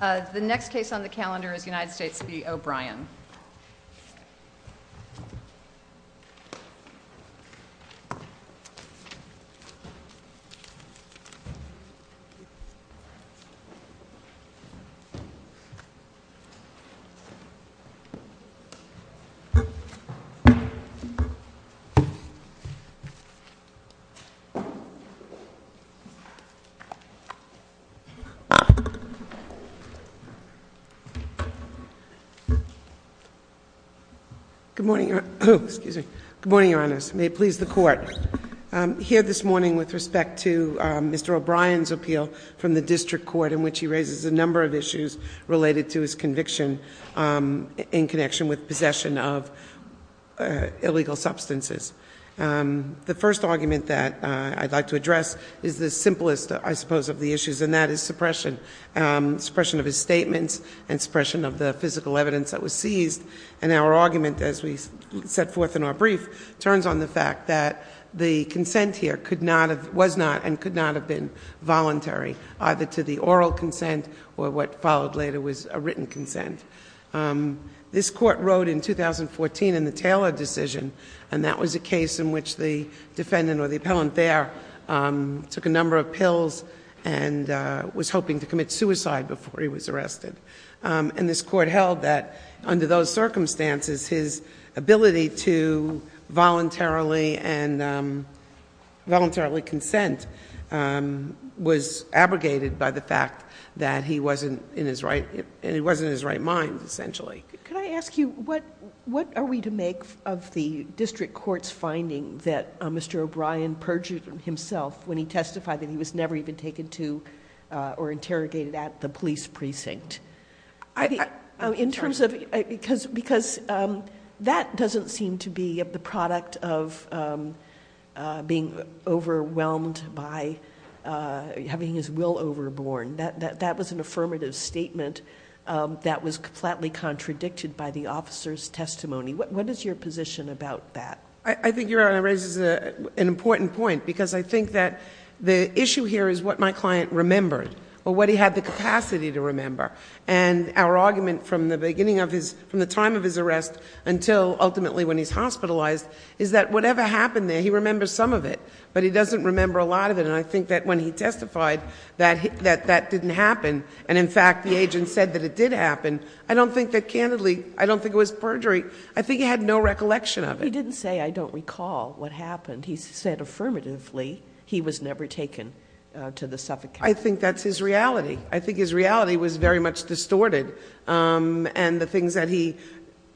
The next case on the calendar is United States v. O'Brien. Good morning, your honors. May it please the court. Here this morning with respect to Mr. O'Brien's appeal from the district court in which he raises a number of issues related to his conviction in connection with possession of illegal substances. The first argument that I'd like to address is the simplest, I suppose, of the issues, and that is suppression. Suppression of his statements and suppression of the physical evidence that was seized. And our argument, as we set forth in our brief, turns on the fact that the consent here was not and could not have been voluntary, either to the oral consent or what followed later was a written consent. This court wrote in 2014 in the Taylor decision, and that was a case in which the defendant or the appellant there took a number of pills and was hoping to commit suicide before he was arrested. And this court held that under those circumstances, his ability to voluntarily consent was abrogated by the fact that he wasn't in his right mind, essentially. Could I ask you, what are we to make of the district court's finding that Mr. O'Brien perjured himself when he testified that he was never even taken to or interrogated at the police precinct? Because that doesn't seem to be the product of being overwhelmed by having his will overborne. That was an affirmative statement that was flatly contradicted by the officer's testimony. What is your position about that? I think Your Honor raises an important point, because I think that the issue here is what my client remembered, or what he had the capacity to remember. And our argument from the beginning of his, from the time of his arrest until ultimately when he's hospitalized, is that whatever happened there, he remembers some of it, but he doesn't remember a lot of it. And I think that when he testified that that didn't happen, and in fact the agent said that it did happen, I don't think that candidly, I don't think it was perjury. I think he had no recollection of it. He didn't say, I don't recall what happened. He said affirmatively he was never taken to the suffocate. I think that's his reality. I think his reality was very much distorted. And the things that he...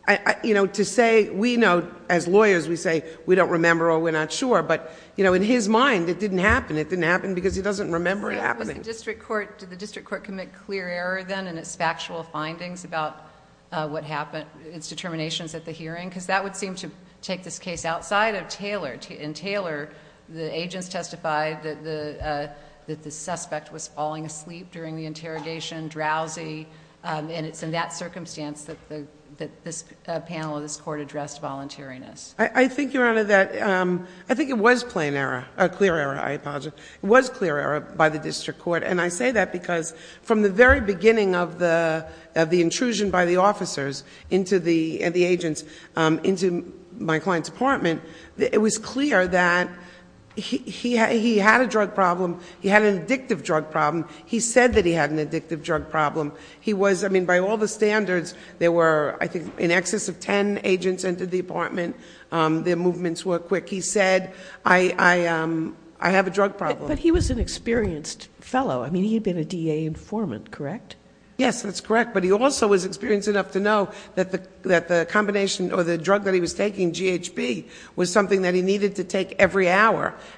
to say, we know, as lawyers, we say, we don't remember or we're not sure. But in his mind, it didn't happen. It didn't happen because he doesn't remember it happening. Did the district court commit clear error then in its factual findings about what happened, its determinations at the hearing? Because that would seem to take this case outside of Taylor. In Taylor, the agents testified that the suspect was falling asleep during the interrogation, drowsy. And it's in that circumstance that this panel of this court addressed voluntariness. I think, Your Honor, that... I think it was plain error, clear error, I apologize. It was clear error by the district court. And I say that because from the very beginning of the intrusion by the officers and the agents into my client's apartment, it was clear that he had a drug problem. He had an addictive drug problem. He said that he had an addictive drug problem. He was... I mean, by all the standards, there were, I think, in excess of ten agents into the apartment. Their movements were quick. He said, I have a drug problem. But he was an experienced fellow. I mean, he had been a DA informant, correct? Yes, that's correct. But he also was experienced enough to know that the combination or the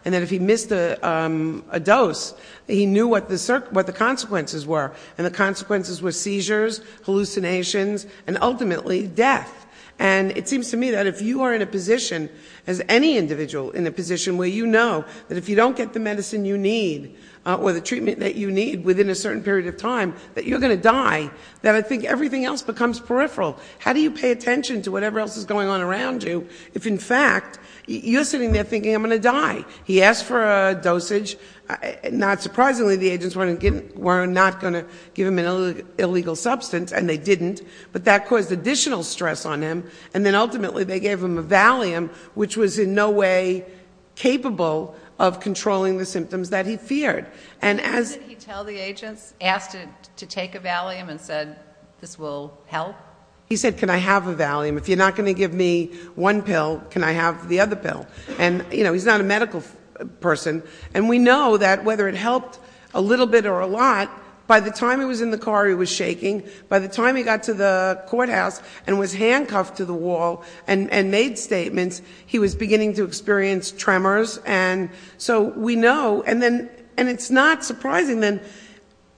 And that if he missed a dose, he knew what the consequences were. And the consequences were seizures, hallucinations, and ultimately, death. And it seems to me that if you are in a position, as any individual in a position, where you know that if you don't get the medicine you need or the treatment that you need within a certain period of time, that you're going to die, that I think everything else becomes peripheral. How do you pay attention to whatever else is going on around you if, in fact, you're sitting there thinking, I'm going to die? He asked for a dosage. Not surprisingly, the agents were not going to give him an illegal substance, and they didn't. But that caused additional stress on him. And then, ultimately, they gave him a Valium, which was in no way capable of controlling the symptoms that he feared. And as... Didn't he tell the agents, ask to take a Valium and said, this will help? He said, can I have a Valium? If you're not going to give me one pill, can I have the other pill? And, you know, he's not a medical person. And we know that whether it helped a little bit or a lot, by the time he was in the car, he was shaking. By the time he got to the courthouse and was handcuffed to the wall and made statements, he was beginning to experience tremors. And so we know... And then... And it's not surprising then,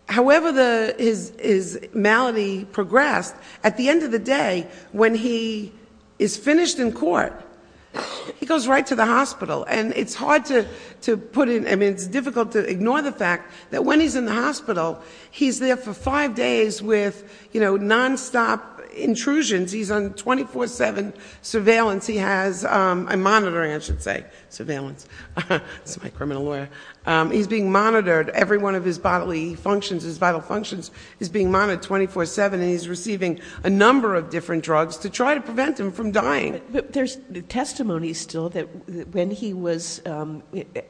however his malady progressed, at the end of the day, when he is finished in court, he goes right to the hospital. And it's hard to put in... I mean, it's difficult to ignore the fact that when he's in the hospital, he's there for five days with, you know, nonstop intrusions. He's on 24-7 surveillance. He has... I'm monitoring, I should say. Surveillance. That's my criminal lawyer. He's being monitored. Every one of his bodily functions, his vital functions is being monitored 24-7. And he's receiving a number of different drugs to try to prevent him from dying. But there's testimony still that when he was...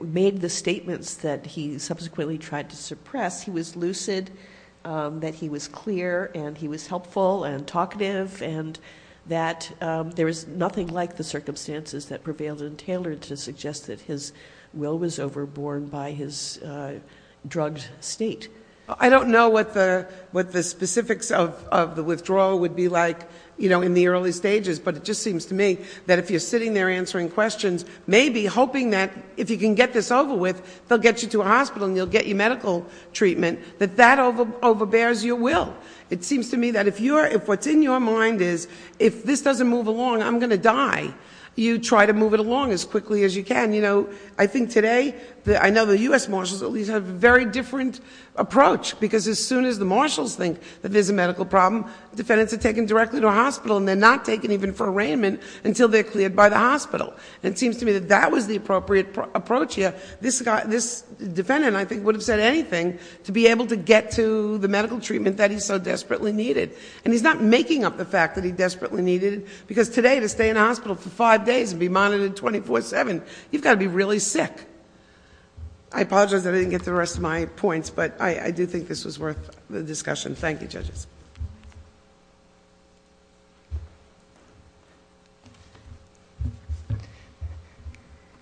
made the statements that he subsequently tried to suppress, he was lucid, that he was clear, and he was helpful and talkative, and that there was nothing like the circumstances that prevailed in Taylor to suggest that his will was overborne by his drugged state. I don't know what the specifics of the withdrawal would be like, you know, in the early stages, but it just seems to me that if you're sitting there answering questions, maybe hoping that if you can get this over with, they'll get you to a hospital and they'll get you medical treatment, that that overbears your will. It seems to me that if you're... if what's in your mind is, if this doesn't move along, I'm going to die, you try to move it along as quickly as you can. You know, I think today, I know the U.S. Marshals at least have a very different approach, because as soon as the Marshals think that there's a medical problem, defendants are taken directly to a hospital and they're not taken even for arraignment until they're cleared by the hospital. It seems to me that that was the appropriate approach here. This defendant, I think, would have said anything to be able to get to the medical treatment that he so desperately needed, and he's not making up the fact that he desperately needed it, because today, to stay in a hospital for five days and be monitored 24-7, you've got to be really sick. I apologize that I didn't get the rest of my points, but I do think this was worth the discussion. Thank you, judges.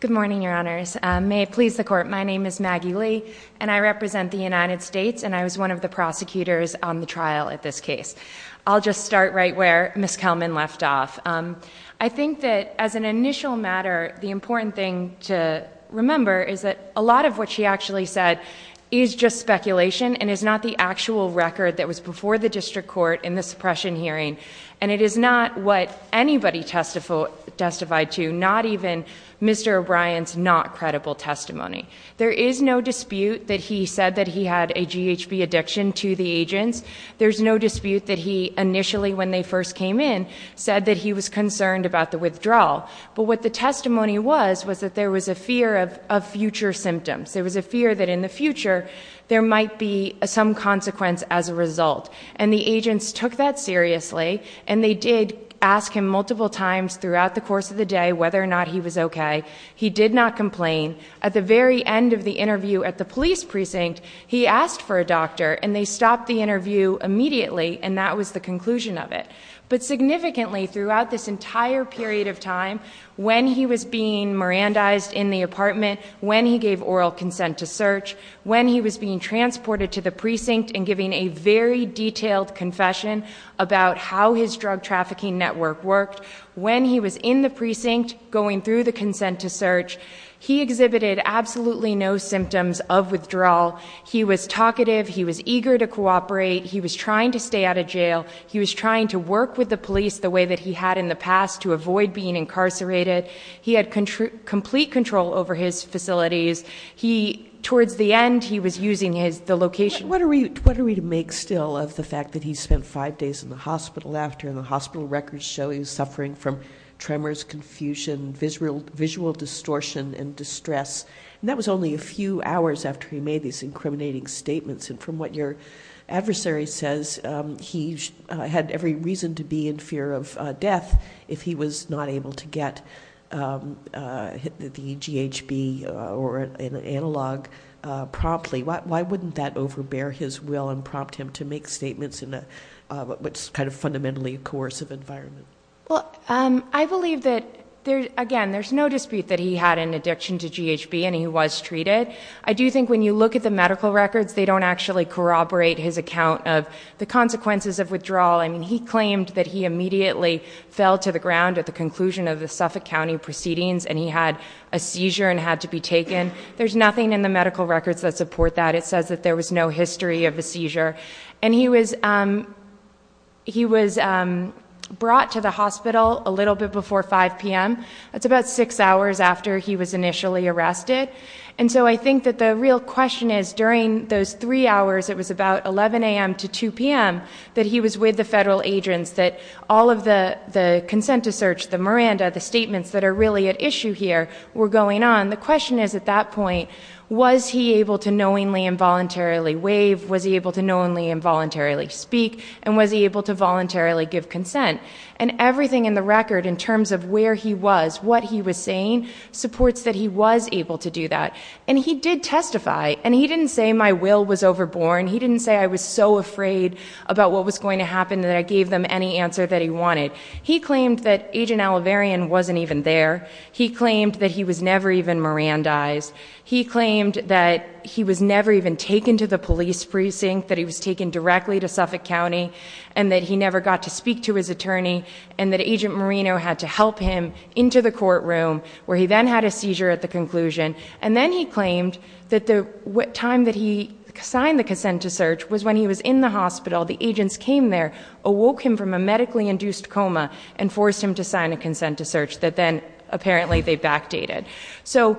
Good morning, Your Honors. May it please the Court, my name is Maggie Lee, and I represent the United States, and I was one of the prosecutors on the trial at this case. I'll just start right where Ms. Kelman left off. I think that as an initial matter, the important thing to remember is that a lot of what she actually said is just speculation and is not the actual record that was before the district court in the suppression hearing, and it is not what anybody testified to, not even Mr. O'Brien's not-credible testimony. There is no dispute that he said that he had a GHB addiction to the agents. There's no dispute that he, initially when they first came in, said that he was concerned about the withdrawal. But what the testimony was, was that there was a fear of future symptoms. There was a fear that in the future, there might be some consequence as a result. And the agents took that seriously, and they did ask him multiple times throughout the course of the day whether or not he was okay. He did not complain. At the very end of the interview at the police precinct, he asked for a doctor, and they stopped the interview immediately, and that was the conclusion of it. But significantly, throughout this entire period of time, when he was being Mirandized in the apartment, when he gave oral consent to search, when he was being transported to the precinct and giving a very detailed confession about how his drug trafficking network worked, when he was in the precinct going through the consent to search, he exhibited absolutely no symptoms of withdrawal. He was talkative. He was eager to cooperate. He was trying to stay out of jail. He was trying to work with the police the way that he had in the past to avoid being incarcerated. He had complete control over his facilities. Towards the end, he was using the location. What are we to make still of the fact that he spent five days in the hospital after the hospital records show he was suffering from tremors, confusion, visual distortion, and distress, and that was only a few hours after he made these incriminating statements. And what your adversary says, he had every reason to be in fear of death if he was not able to get the GHB or an analog promptly. Why wouldn't that overbear his will and prompt him to make statements in what's kind of fundamentally a coercive environment? I believe that, again, there's no dispute that he had an addiction to GHB and he was treated. I do think when you look at the medical records, they don't actually corroborate his account of the consequences of withdrawal. I mean, he claimed that he immediately fell to the ground at the conclusion of the Suffolk County proceedings and he had a seizure and had to be taken. There's nothing in the medical records that support that. It says that there was no history of a seizure. And he was brought to the hospital a little bit before 5 p.m. That's about six hours after he was initially arrested. And so I think that the real question is during those three hours, it was about 11 a.m. to 2 p.m., that he was with the federal agents, that all of the consent to search, the Miranda, the statements that are really at issue here were going on. The question is at that point, was he able to knowingly and voluntarily waive? Was he able to knowingly and voluntarily speak? And was he able to saying supports that he was able to do that? And he did testify. And he didn't say my will was overborn. He didn't say I was so afraid about what was going to happen that I gave them any answer that he wanted. He claimed that Agent Oliverian wasn't even there. He claimed that he was never even Mirandized. He claimed that he was never even taken to the police precinct, that he was taken directly to Suffolk County, and that he never got to the courtroom, where he then had a seizure at the conclusion. And then he claimed that the time that he signed the consent to search was when he was in the hospital. The agents came there, awoke him from a medically induced coma, and forced him to sign a consent to search that then apparently they backdated. So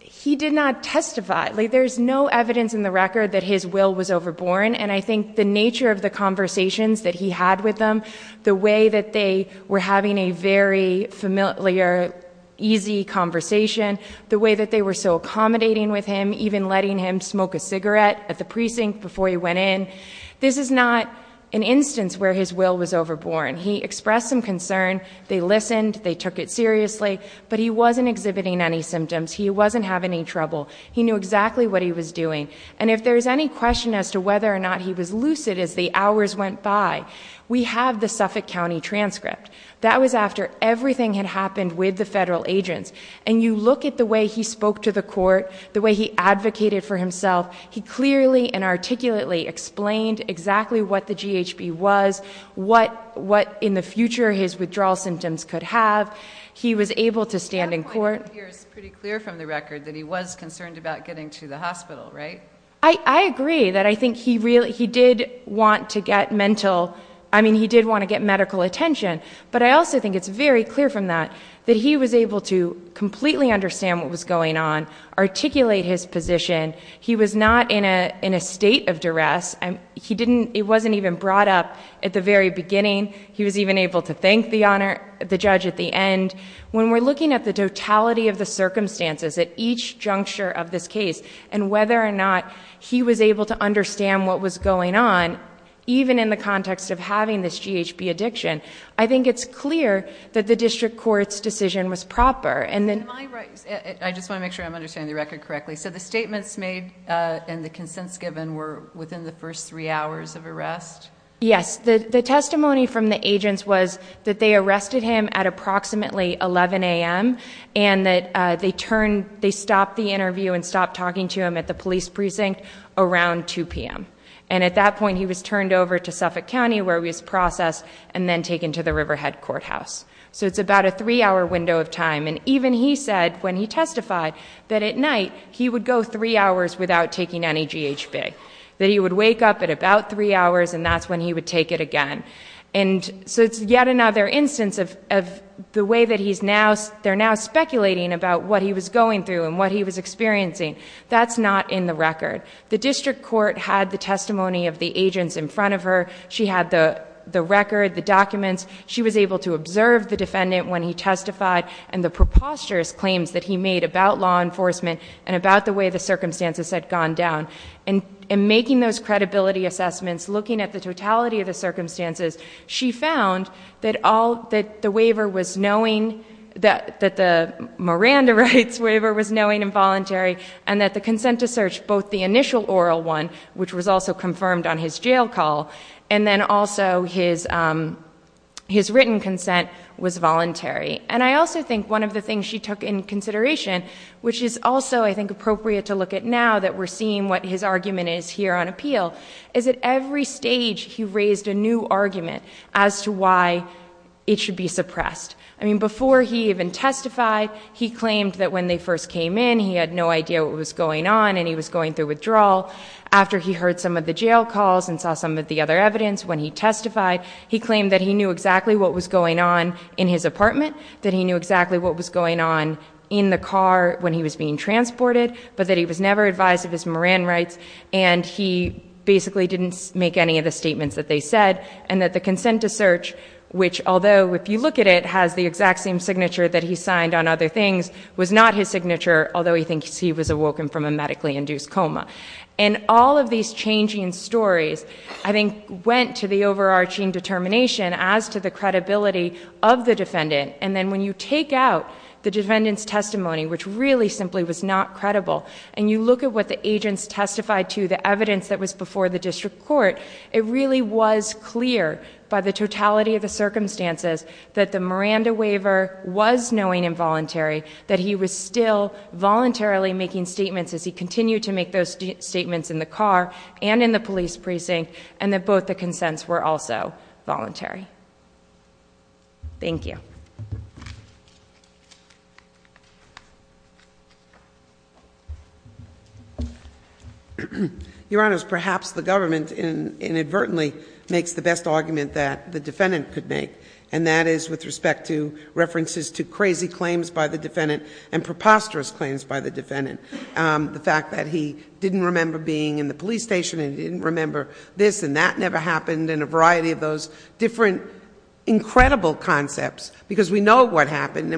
he did not testify. There's no evidence in the record that his will was overborn. And I think the nature of the conversations that he had with them, the way that they were having a very familiar, easy conversation, the way that they were so accommodating with him, even letting him smoke a cigarette at the precinct before he went in, this is not an instance where his will was overborn. He expressed some concern. They listened. They took it seriously. But he wasn't exhibiting any symptoms. He wasn't having any trouble. He knew exactly what he was doing. And if hours went by, we have the Suffolk County transcript. That was after everything had happened with the federal agents. And you look at the way he spoke to the court, the way he advocated for himself, he clearly and articulately explained exactly what the GHB was, what in the future his withdrawal symptoms could have. He was able to stand in court. The other point here is pretty clear from the record that he was concerned about getting to the hospital, right? I agree that I think he really, he did want to get mental, I mean, he did want to get medical attention. But I also think it's very clear from that that he was able to completely understand what was going on, articulate his position. He was not in a state of duress. He didn't, it wasn't even brought up at the very beginning. He was even able to thank the honor, the judge at the end. When we're looking at the totality of the circumstances at each juncture of this case and whether or not he was able to understand what was going on, even in the context of having this GHB addiction, I think it's clear that the district court's decision was proper. Am I right? I just want to make sure I'm understanding the record correctly. So the statements made and the consents given were within the first three hours of arrest? Yes. The testimony from the agents was that they arrested him at approximately 11 a.m. and that they turned, they stopped the interview and stopped talking to him at the police precinct around 2 p.m. And at that point he was turned over to Suffolk County where he was processed and then taken to the Riverhead Courthouse. So it's about a three hour window of time. And even he said when he testified that at night he would go three hours without taking any GHB. That he would wake up at about three hours and that's when he would take it again. And so it's yet another instance of the way that he's now, they're now speculating about what he was going through and what he was experiencing. That's not in the record. The district court had the testimony of the agents in front of her. She had the record, the documents. She was able to observe the defendant when he testified and the preposterous claims that he made about law enforcement and about the way the circumstances had gone down. And making those credibility assessments, looking at the totality of the circumstances, she found that all, that the waiver was knowing, that the Miranda rights waiver was knowing and voluntary and that the consent to search, both the initial oral one, which was also confirmed on his jail call, and then also his written consent was voluntary. And I also think one of the things she took in consideration, which is also I think appropriate to look at now that we're seeing what his argument is here on appeal, is at every stage he raised a new argument as to why it should be suppressed. I mean, before he even testified, he claimed that when they first came in, he had no idea what was going on and he was going through withdrawal. After he heard some of the jail calls and saw some of the other evidence, when he testified, he claimed that he knew exactly what was going on in his apartment, that he knew exactly what was going on in the car when he was being transported, but that he was never advised of his Moran rights and he basically didn't make any of the statements that they said, and that the consent to search, which although if you look at it, has the exact same signature that he signed on other things, was not his signature, although he thinks he was awoken from a medically induced coma. And all of these changing stories, I think, went to the overarching determination as to the credibility of the defendant. And then when you take out the defendant's testimony, which really simply was not credible, and you look at what the agents testified to, the evidence that was before the district court, it really was clear by the totality of the circumstances that the Miranda waiver was knowing and voluntary, that he was still voluntarily making statements as he continued to make those statements in the car and in the police precinct, and that both the consents were also voluntary. Thank you. Your Honors, perhaps the government inadvertently makes the best argument that the defendant could make, and that is with respect to references to crazy claims by the defendant and preposterous claims by the defendant. The fact that he didn't remember being in the police station and he didn't remember this and that never happened and a variety of those different incredible concepts, because we know what happened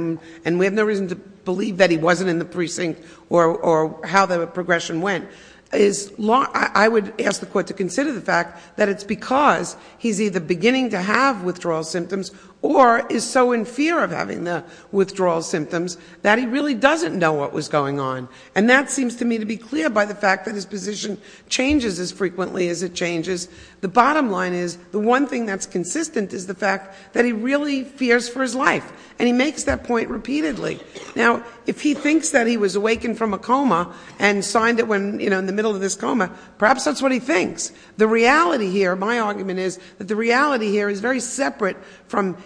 and we have no reason to believe that he wasn't in the precinct or how the progression went, I would ask the Court to consider the fact that it's because he's either beginning to have withdrawal symptoms or is so in fear of having the withdrawal symptoms that he really doesn't know what was going on. And that seems to me to be clear by the fact that his position changes as frequently as it changes. The bottom line is the one thing that's consistent is the fact that he really fears for his life, and he makes that point repeatedly. Now, if he thinks that he was awakened from a coma and signed it when, you know, in the middle of this coma, perhaps that's what he thinks. The reality here, my argument is, that the reality here is very separate from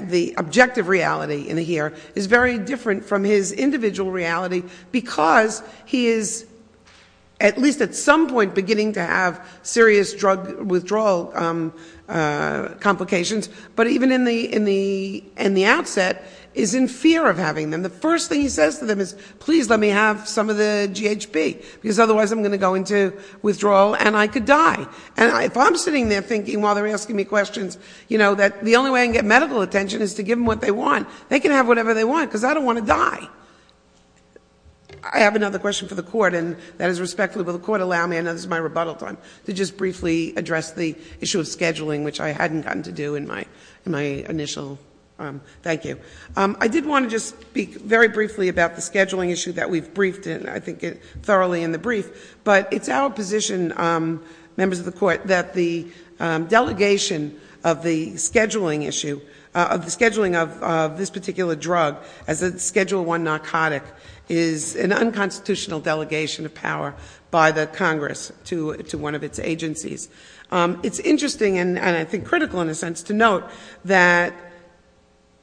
the objective reality in here, is very different from his individual reality because he is at least at some point beginning to have serious drug withdrawal complications, but even in the outset is in fear of having them. The first thing he says to them is, please let me have some of the GHB, because otherwise I'm going to go into withdrawal and I could die. And if I'm sitting there thinking while they're asking me questions, you know, that the only way I can get medical attention is to give them what they want. They can have whatever they want, because I don't want to die. I have another question for the court, and that is respectfully, will the court allow me, I know this is my rebuttal time, to just briefly address the issue of scheduling, which I hadn't gotten to do in my initial, thank you. I did want to just speak very briefly about the scheduling issue that we've briefed in, I think thoroughly in the brief, but it's our position, members of the court, that the delegation of the scheduling issue, of the scheduling of this particular drug as a Schedule I narcotic is an unconstitutional delegation of power by the Congress to one of its agencies. It's interesting and I think critical in a sense to note that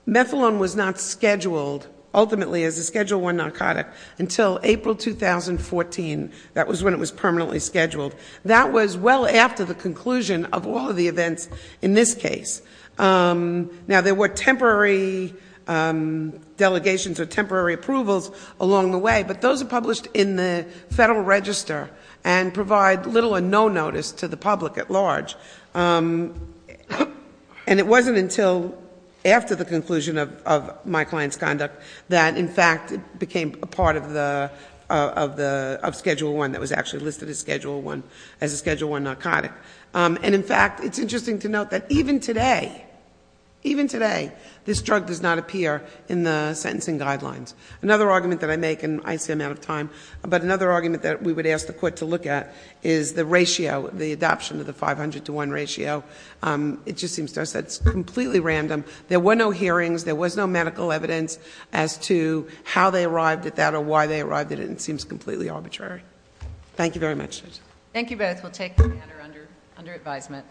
methadone was not scheduled ultimately as a Schedule I narcotic until April 2014. That was when it was permanently scheduled. That was well after the conclusion of all of the events in this case. Now, there were temporary delegations or temporary approvals along the way, but those are published in the Federal Register and provide little or no notice to the public at large. And it wasn't until after the conclusion of my client's case that it was actually listed as a Schedule I narcotic. And in fact, it's interesting to note that even today, even today, this drug does not appear in the sentencing guidelines. Another argument that I make, and I seem out of time, but another argument that we would ask the court to look at is the ratio, the adoption of the 500 to 1 ratio. It just seems to us that it's completely random. There were no hearings. There was no medical evidence as to how they arrived at that or why they arrived at it. It seems completely arbitrary. Thank you very much. Thank you both. We'll take the matter under advisement.